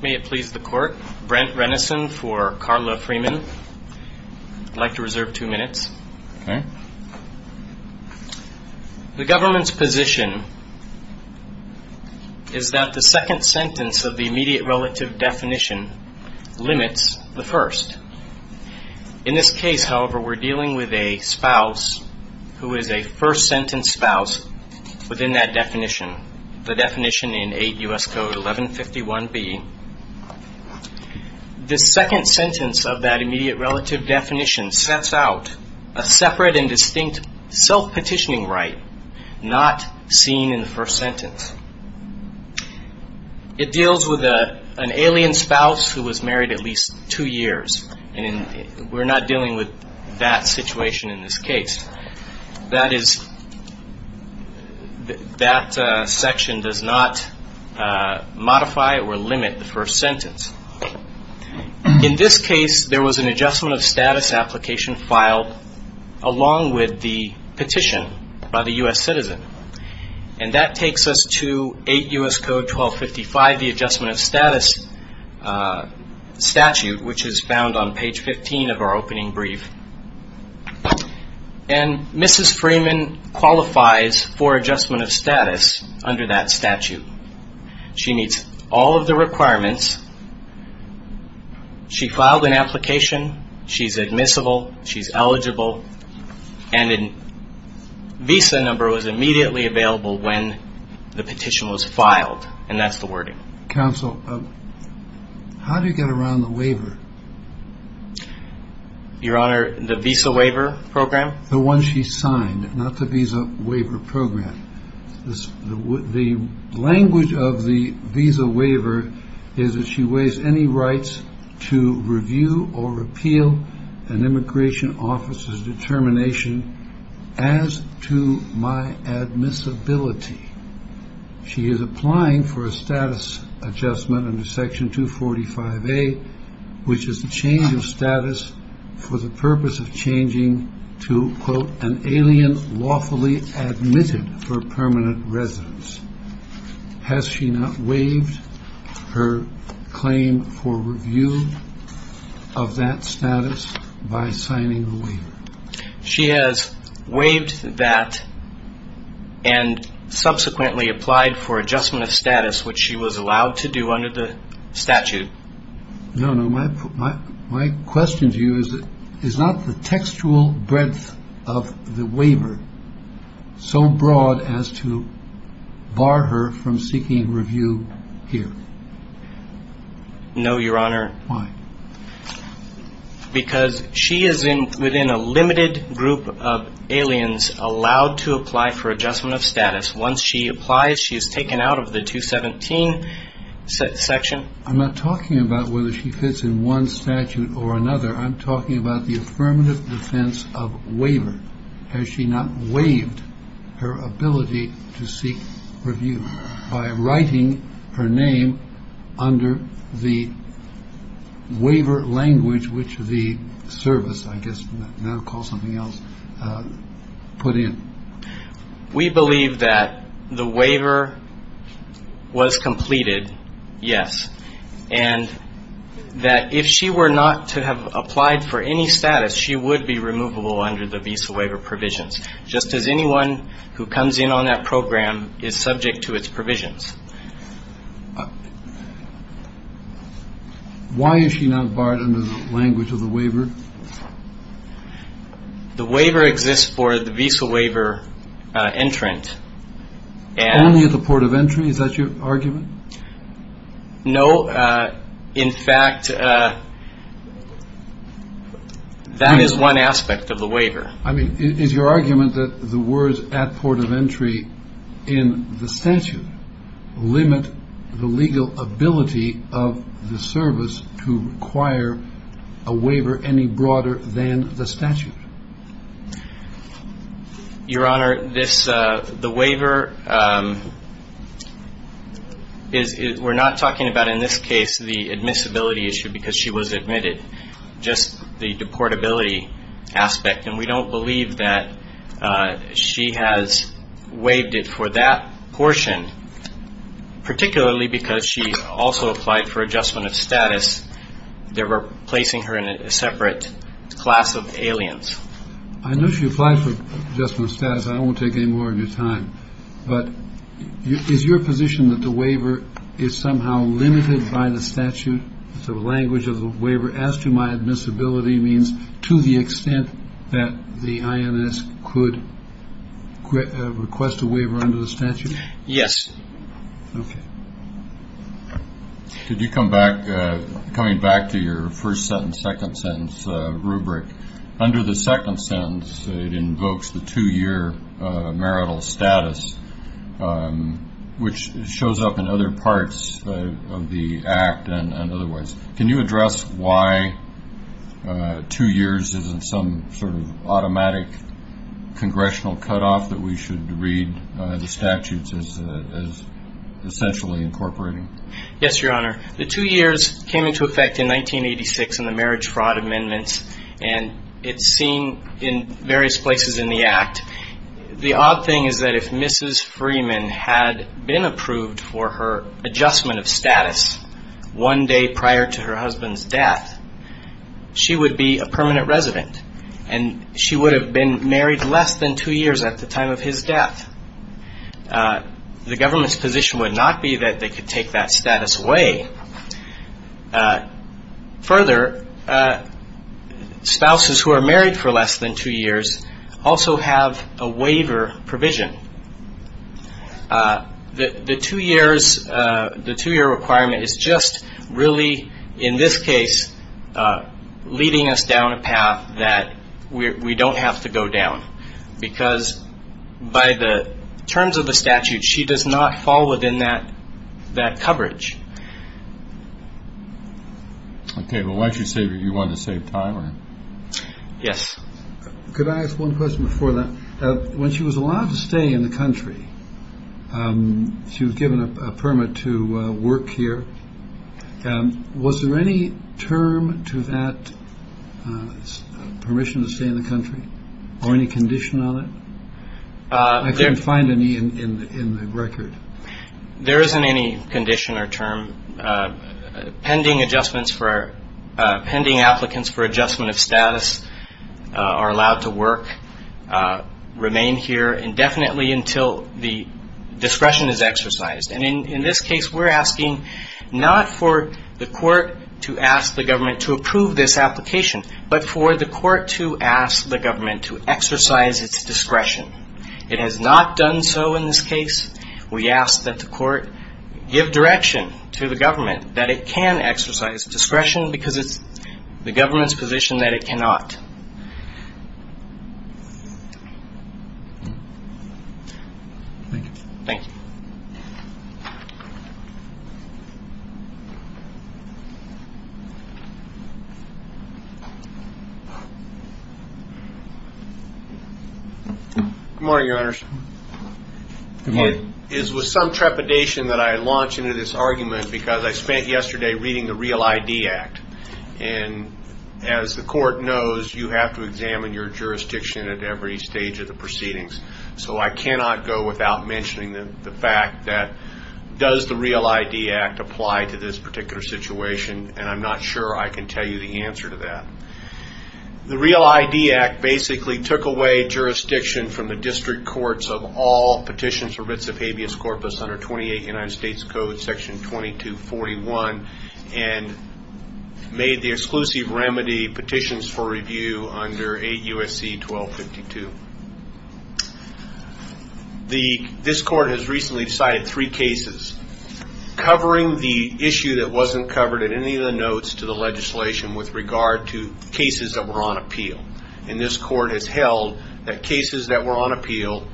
May it please the Court. Brent Renneson for Carla Freeman. I'd like to reserve two minutes. The government's position is that the second sentence of the immediate relative definition limits the first. In this case, however, we're dealing with a spouse who is a first sentence spouse within that definition, the definition in eight U.S. code 1151B. The second sentence of that immediate relative definition sets out a separate and distinct self-petitioning right not seen in the first sentence. It deals with an alien spouse who was married at least two years. And we're not dealing with that situation in this case. That is, that section does not modify or limit the first sentence. In this case, there was an adjustment of status application filed along with the petition by the U.S. citizen. And that takes us to eight U.S. code 1255, the adjustment of status statute, which is found on page 15 of our opening brief. And Mrs. Freeman qualifies for adjustment of status under that statute. She meets all of the requirements. She filed an application. She's admissible. She's eligible. And a visa number was immediately available when the petition was filed. And that's the wording. Counsel, how do you get around the waiver? Your Honor, the visa waiver program? The one she signed, not the visa waiver program. The language of the visa waiver is that she waives any rights to review or repeal an immigration officer's determination as to my admissibility. She is applying for a status adjustment under Section 245A, which is the change of status for the purpose of changing to, quote, an alien lawfully admitted for permanent residence. Has she not waived her claim for review of that status by signing the waiver? She has waived that and subsequently applied for adjustment of status, which she was allowed to do under the statute. No, no. My my question to you is, is not the textual breadth of the waiver so broad as to bar her from seeking review here? No, Your Honor. Why? Because she is in within a limited group of aliens allowed to apply for adjustment of status. Once she applies, she is taken out of the 217 section. I'm not talking about whether she fits in one statute or another. I'm talking about the affirmative defense of waiver. Has she not waived her ability to seek review by writing her name under the waiver language, which the service, I guess they'll call something else, put in? We believe that the waiver was completed. Yes. And that if she were not to have applied for any status, she would be removable under the visa waiver provisions, just as anyone who comes in on that program is subject to its provisions. Why is she not barred under the language of the waiver? The waiver exists for the visa waiver entrant. Only at the port of entry? Is that your argument? No. In fact, that is one aspect of the waiver. I mean, is your argument that the words at port of entry in the statute limit the legal ability of the service to require a waiver any broader than the statute? Your Honor, the waiver, we're not talking about in this case the admissibility issue because she was admitted, just the deportability aspect. And we don't believe that she has waived it for that portion, particularly because she also applied for adjustment of status. They were placing her in a separate class of aliens. I know she applied for adjustment of status. I won't take any more of your time. But is your position that the waiver is somehow limited by the statute? The language of the waiver as to my admissibility means to the extent that the INS could request a waiver under the statute? Yes. Okay. Could you come back, coming back to your first sentence, second sentence rubric. Under the second sentence, it invokes the two-year marital status, which shows up in other parts of the act and otherwise. Can you address why two years isn't some sort of automatic congressional cutoff that we should read the statutes as essentially incorporating? Yes, Your Honor. The two years came into effect in 1986 in the Marriage Fraud Amendments and it's seen in various places in the act. The odd thing is that if Mrs. Freeman had been approved for her adjustment of status one day prior to her husband's death, she would be a permanent resident and she would have been married less than two years at the time of his death. The government's position would not be that they could take that status away. Further, spouses who are married for less than two years also have a waiver provision. The two-year requirement is just really, in this case, leading us down a path that we don't have to go down because by the terms of the statute, she does not fall within that coverage. Okay. Well, why did you say you wanted to save time? Yes. Could I ask one question before that? When she was allowed to stay in the country, she was given a permit to work here. Was there any term to that permission to stay in the country or any condition on it? I couldn't find any in the record. There isn't any condition or term. Pending applicants for adjustment of status are allowed to work, remain here indefinitely until the discretion is exercised. And in this case, we're asking not for the court to ask the government to approve this application, but for the court to ask the government to exercise its discretion. It has not done so in this case. We ask that the court give direction to the government that it can exercise discretion because it's the government's position that it cannot. Good morning, Your Honors. Good morning. It is with some trepidation that I launch into this argument because I spent yesterday reading the Real ID Act. And as the court knows, you have to examine your jurisdiction at every stage of the proceedings. So I cannot go without mentioning the fact that does the Real ID Act apply to this particular situation? And I'm not sure I can tell you the answer to that. The Real ID Act basically took away jurisdiction from the district courts of all petitions for writs of habeas corpus under 28 United States Code section 2241 and made the exclusive remedy petitions for review under 8 U.S.C. 1252. This court has recently cited three cases covering the issue that wasn't covered in any of the notes to the legislation with regard to cases that were on appeal. And this court has held that cases that were on appeal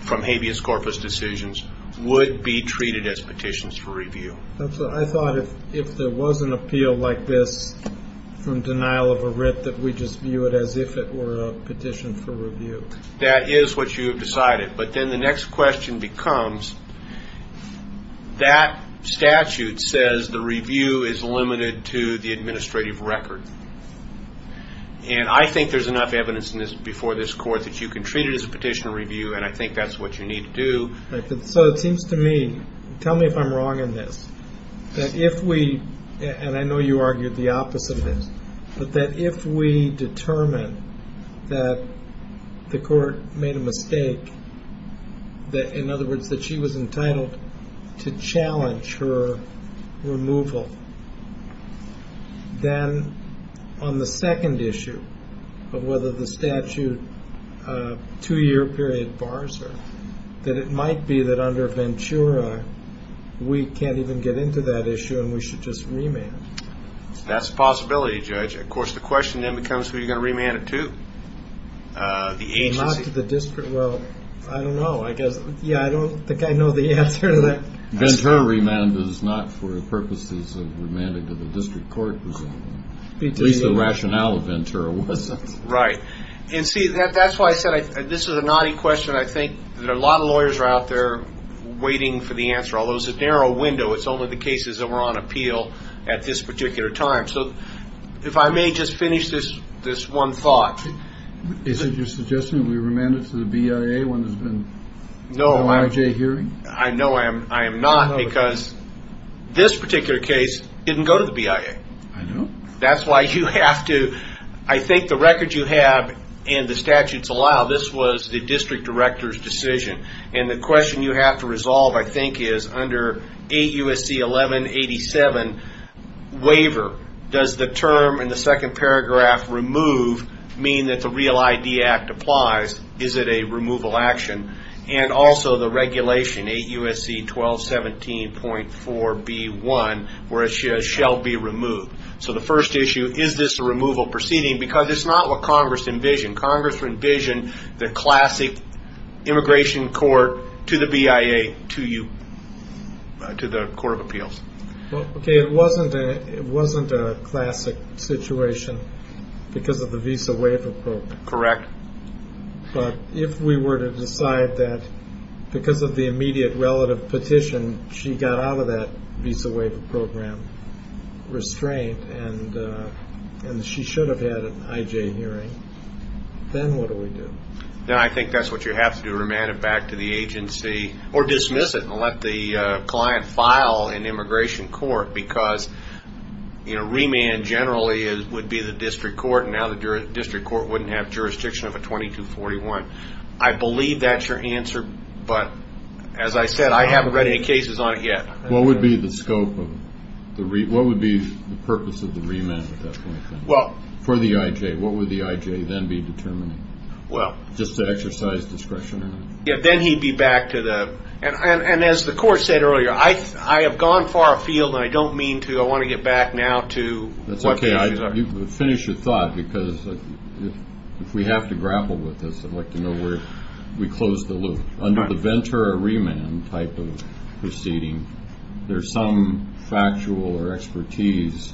from habeas corpus decisions would be treated as petitions for review. I thought if there was an appeal like this from denial of a writ that we just view it as if it were a petition for review. That is what you have decided. But then the next question becomes that statute says the review is limited to the administrative record. And I think there's enough evidence in this before this court that you can treat it as a petition review. And I think that's what you need to do. So it seems to me. Tell me if I'm wrong in this. If we. And I know you argued the opposite. But that if we determine that the court made a mistake. That in other words that she was entitled to challenge her removal. Then on the second issue of whether the statute two year period bars that it might be that under Ventura we can't even get into that issue and we should just remand. That's a possibility judge. Of course the question then becomes who you're going to remand it to. The agency the district. Well I don't know. I guess. Yeah I don't think I know the answer to that. Ventura remand is not for the purposes of remanded to the district court. It's the rationale of Ventura. Right. And see that. That's why I said this is a naughty question. I think that a lot of lawyers are out there waiting for the answer. Although it's a narrow window. It's only the cases that were on appeal at this particular time. So if I may just finish this this one thought. Is it your suggestion that we remanded to the BIA when there's been no hearing. I know I am. I am not because this particular case didn't go to the BIA. I know that's why you have to. I think the record you have in the statutes allow this was the district director's decision. And the question you have to resolve I think is under a USC 11 87 waiver. Does the term in the second paragraph remove mean that the Real ID Act applies. Is it a removal action. And also the regulation 8 USC 12 17.4 B1 where it shall be removed. So the first issue is this a removal proceeding because it's not what Congress envisioned. Congress envisioned the classic immigration court to the BIA to you to the Court of Appeals. OK. It wasn't it wasn't a classic situation because of the visa waiver program. Correct. But if we were to decide that because of the immediate relative petition she got out of that visa waiver program restraint. And she should have had an IJ hearing. Then what do we do. Then I think that's what you have to do. Remand it back to the agency or dismiss it and let the client file an immigration court. Because you know remand generally is would be the district court. Now the district court wouldn't have jurisdiction of a 22 41. I believe that's your answer. But as I said I haven't read any cases on it yet. What would be the scope of the what would be the purpose of the remand. Well for the IJ what would the IJ then be determined. Well just to exercise discretion. Then he'd be back to the. And as the court said earlier I I have gone far afield and I don't mean to. I want to get back now to that's OK. I finish your thought because if we have to grapple with this I'd like to know where we close the loop. Under the Ventura remand type of proceeding there's some factual or expertise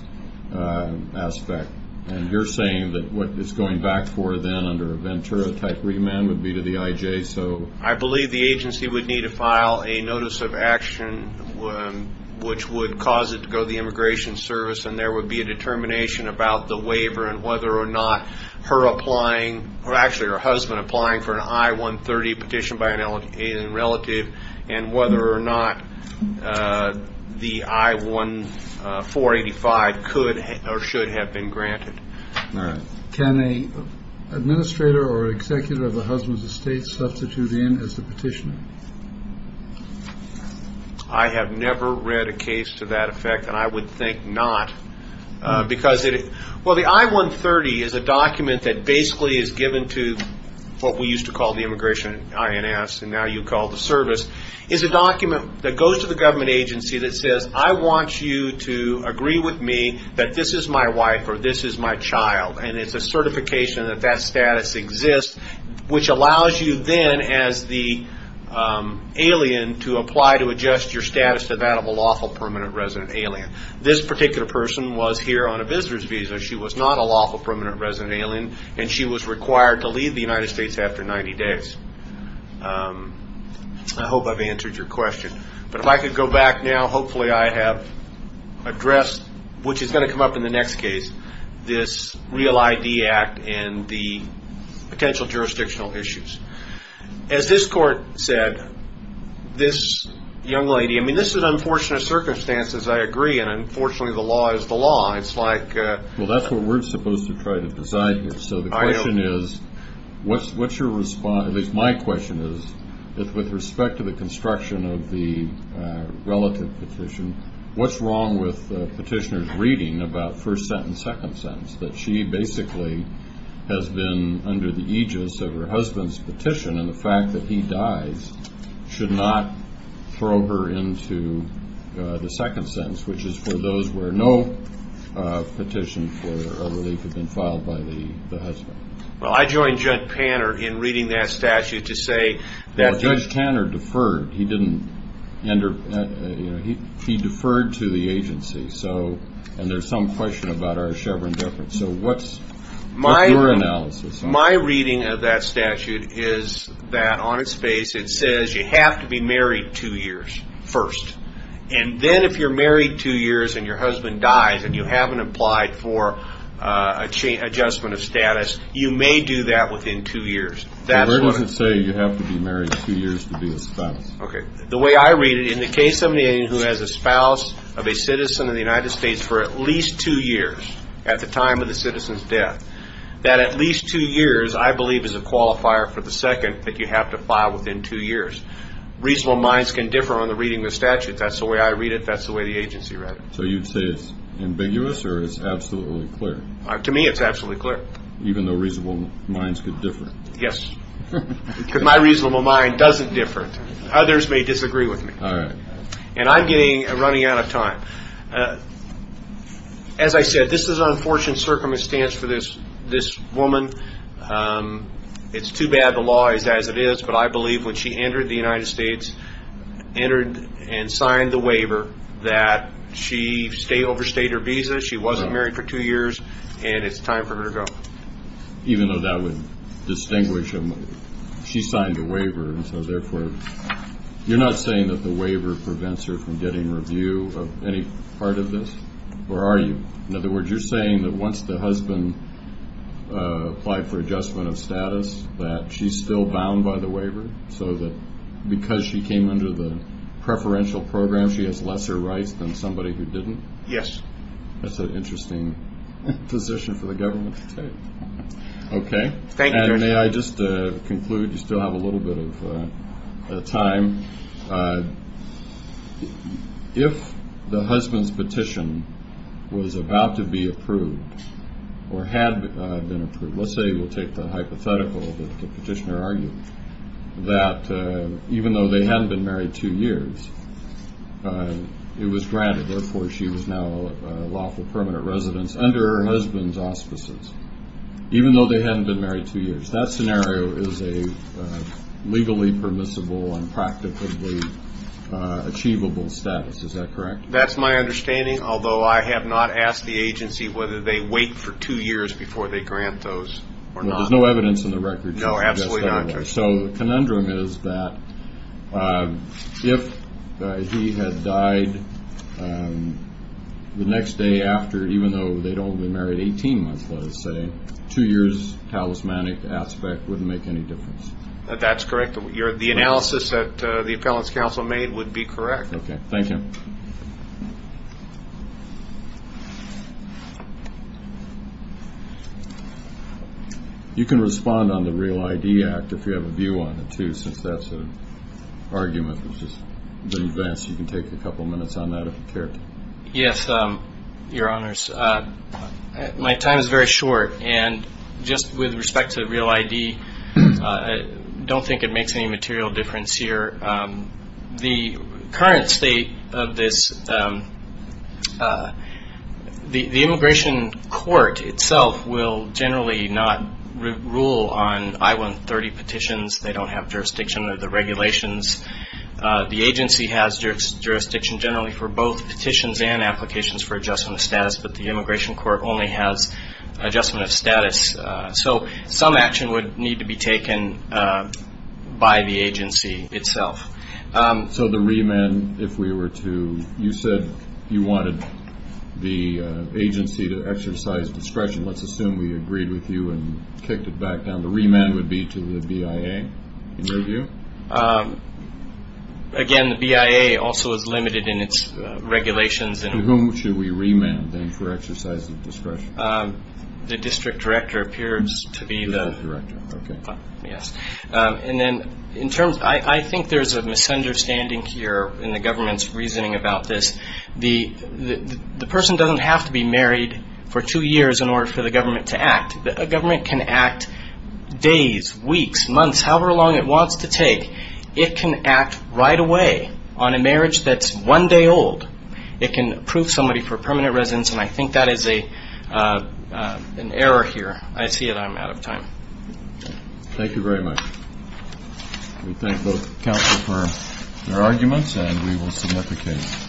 aspect. And you're saying that what is going back for then under Ventura type remand would be to the IJ. So I believe the agency would need to file a notice of action which would cause it to go the immigration service. And there would be a determination about the waiver and whether or not her applying. Actually her husband applying for an I-130 petition by an alien relative and whether or not the I-1485 could or should have been granted. Can a administrator or executive of the husband's estate substitute in as the petitioner. I have never read a case to that effect and I would think not because it. Well the I-130 is a document that basically is given to what we used to call the immigration INS and now you call the service. It's a document that goes to the government agency that says I want you to agree with me that this is my wife or this is my child. And it's a certification that that status exists which allows you then as the alien to apply to adjust your status to that of a lawful permanent resident alien. This particular person was here on a visitor's visa. She was not a lawful permanent resident alien and she was required to leave the United States after 90 days. I hope I've answered your question. But if I could go back now hopefully I have addressed which is going to come up in the next case. This Real ID Act and the potential jurisdictional issues. As this court said this young lady I mean this is unfortunate circumstances I agree. And unfortunately the law is the law. It's like well that's what we're supposed to try to decide. So the question is what's what's your response. At least my question is with respect to the construction of the relative petition. What's wrong with petitioners reading about first sentence second sentence that she basically has been under the aegis of her husband's petition. And the fact that he dies should not throw her into the second sentence which is for those where no petition for a relief has been filed by the husband. Well I joined Judge Tanner in reading that statute to say that Judge Tanner deferred. He didn't enter. He deferred to the agency. So and there's some question about our Chevron difference. So what's my analysis. My reading of that statute is that on its face it says you have to be married two years first. And then if you're married two years and your husband dies and you haven't applied for a chain adjustment of status you may do that within two years. That's what I would say. You have to be married two years to be a spouse. The way I read it in the case of a man who has a spouse of a citizen of the United States for at least two years at the time of the citizen's death. That at least two years I believe is a qualifier for the second that you have to file within two years. Reasonable minds can differ on the reading of the statute. That's the way I read it. That's the way the agency read it. So you'd say it's ambiguous or it's absolutely clear. To me it's absolutely clear. Even though reasonable minds could differ. Yes. Because my reasonable mind doesn't differ. Others may disagree with me. All right. And I'm running out of time. As I said, this is an unfortunate circumstance for this woman. It's too bad the law is as it is. But I believe when she entered the United States, entered and signed the waiver, that she overstayed her visa. She wasn't married for two years. And it's time for her to go. Even though that would distinguish them. She signed the waiver. And so, therefore, you're not saying that the waiver prevents her from getting review of any part of this? Or are you? In other words, you're saying that once the husband applied for adjustment of status, that she's still bound by the waiver? So that because she came under the preferential program, she has lesser rights than somebody who didn't? Yes. That's an interesting position for the government to take. Okay. Thank you, Commissioner. And may I just conclude? You still have a little bit of time. If the husband's petition was about to be approved or had been approved, let's say we'll take the hypothetical that the petitioner argued that even though they hadn't been married two years, it was granted. Therefore, she was now a lawful permanent residence under her husband's auspices. Even though they hadn't been married two years. That scenario is a legally permissible and practically achievable status. Is that correct? That's my understanding. Although I have not asked the agency whether they wait for two years before they grant those or not. There's no evidence in the record to suggest that way. No, absolutely not. Okay. So the conundrum is that if he had died the next day after, even though they'd only been married 18 months, let's say, two years' talismanic aspect wouldn't make any difference. That's correct. The analysis that the Appellant's Counsel made would be correct. Okay. Thank you. Okay. You can respond on the Real ID Act if you have a view on it, too, since that's an argument that's just been advanced. You can take a couple minutes on that if you care to. Yes, Your Honors. My time is very short, and just with respect to Real ID, I don't think it makes any material difference here. The current state of this, the Immigration Court itself will generally not rule on I-130 petitions. They don't have jurisdiction of the regulations. The agency has jurisdiction generally for both petitions and applications for adjustment of status, but the Immigration Court only has adjustment of status. So some action would need to be taken by the agency itself. So the remand, if we were to, you said you wanted the agency to exercise discretion. Let's assume we agreed with you and kicked it back down. The remand would be to the BIA, in your view? Again, the BIA also is limited in its regulations. The district director appears to be the director. I think there's a misunderstanding here in the government's reasoning about this. The person doesn't have to be married for two years in order for the government to act. A government can act days, weeks, months, however long it wants to take. It can act right away on a marriage that's one day old. It can approve somebody for permanent residence, and I think that is an error here. I see that I'm out of time. Thank you very much. We thank both counsel for their arguments, and we will submit the case.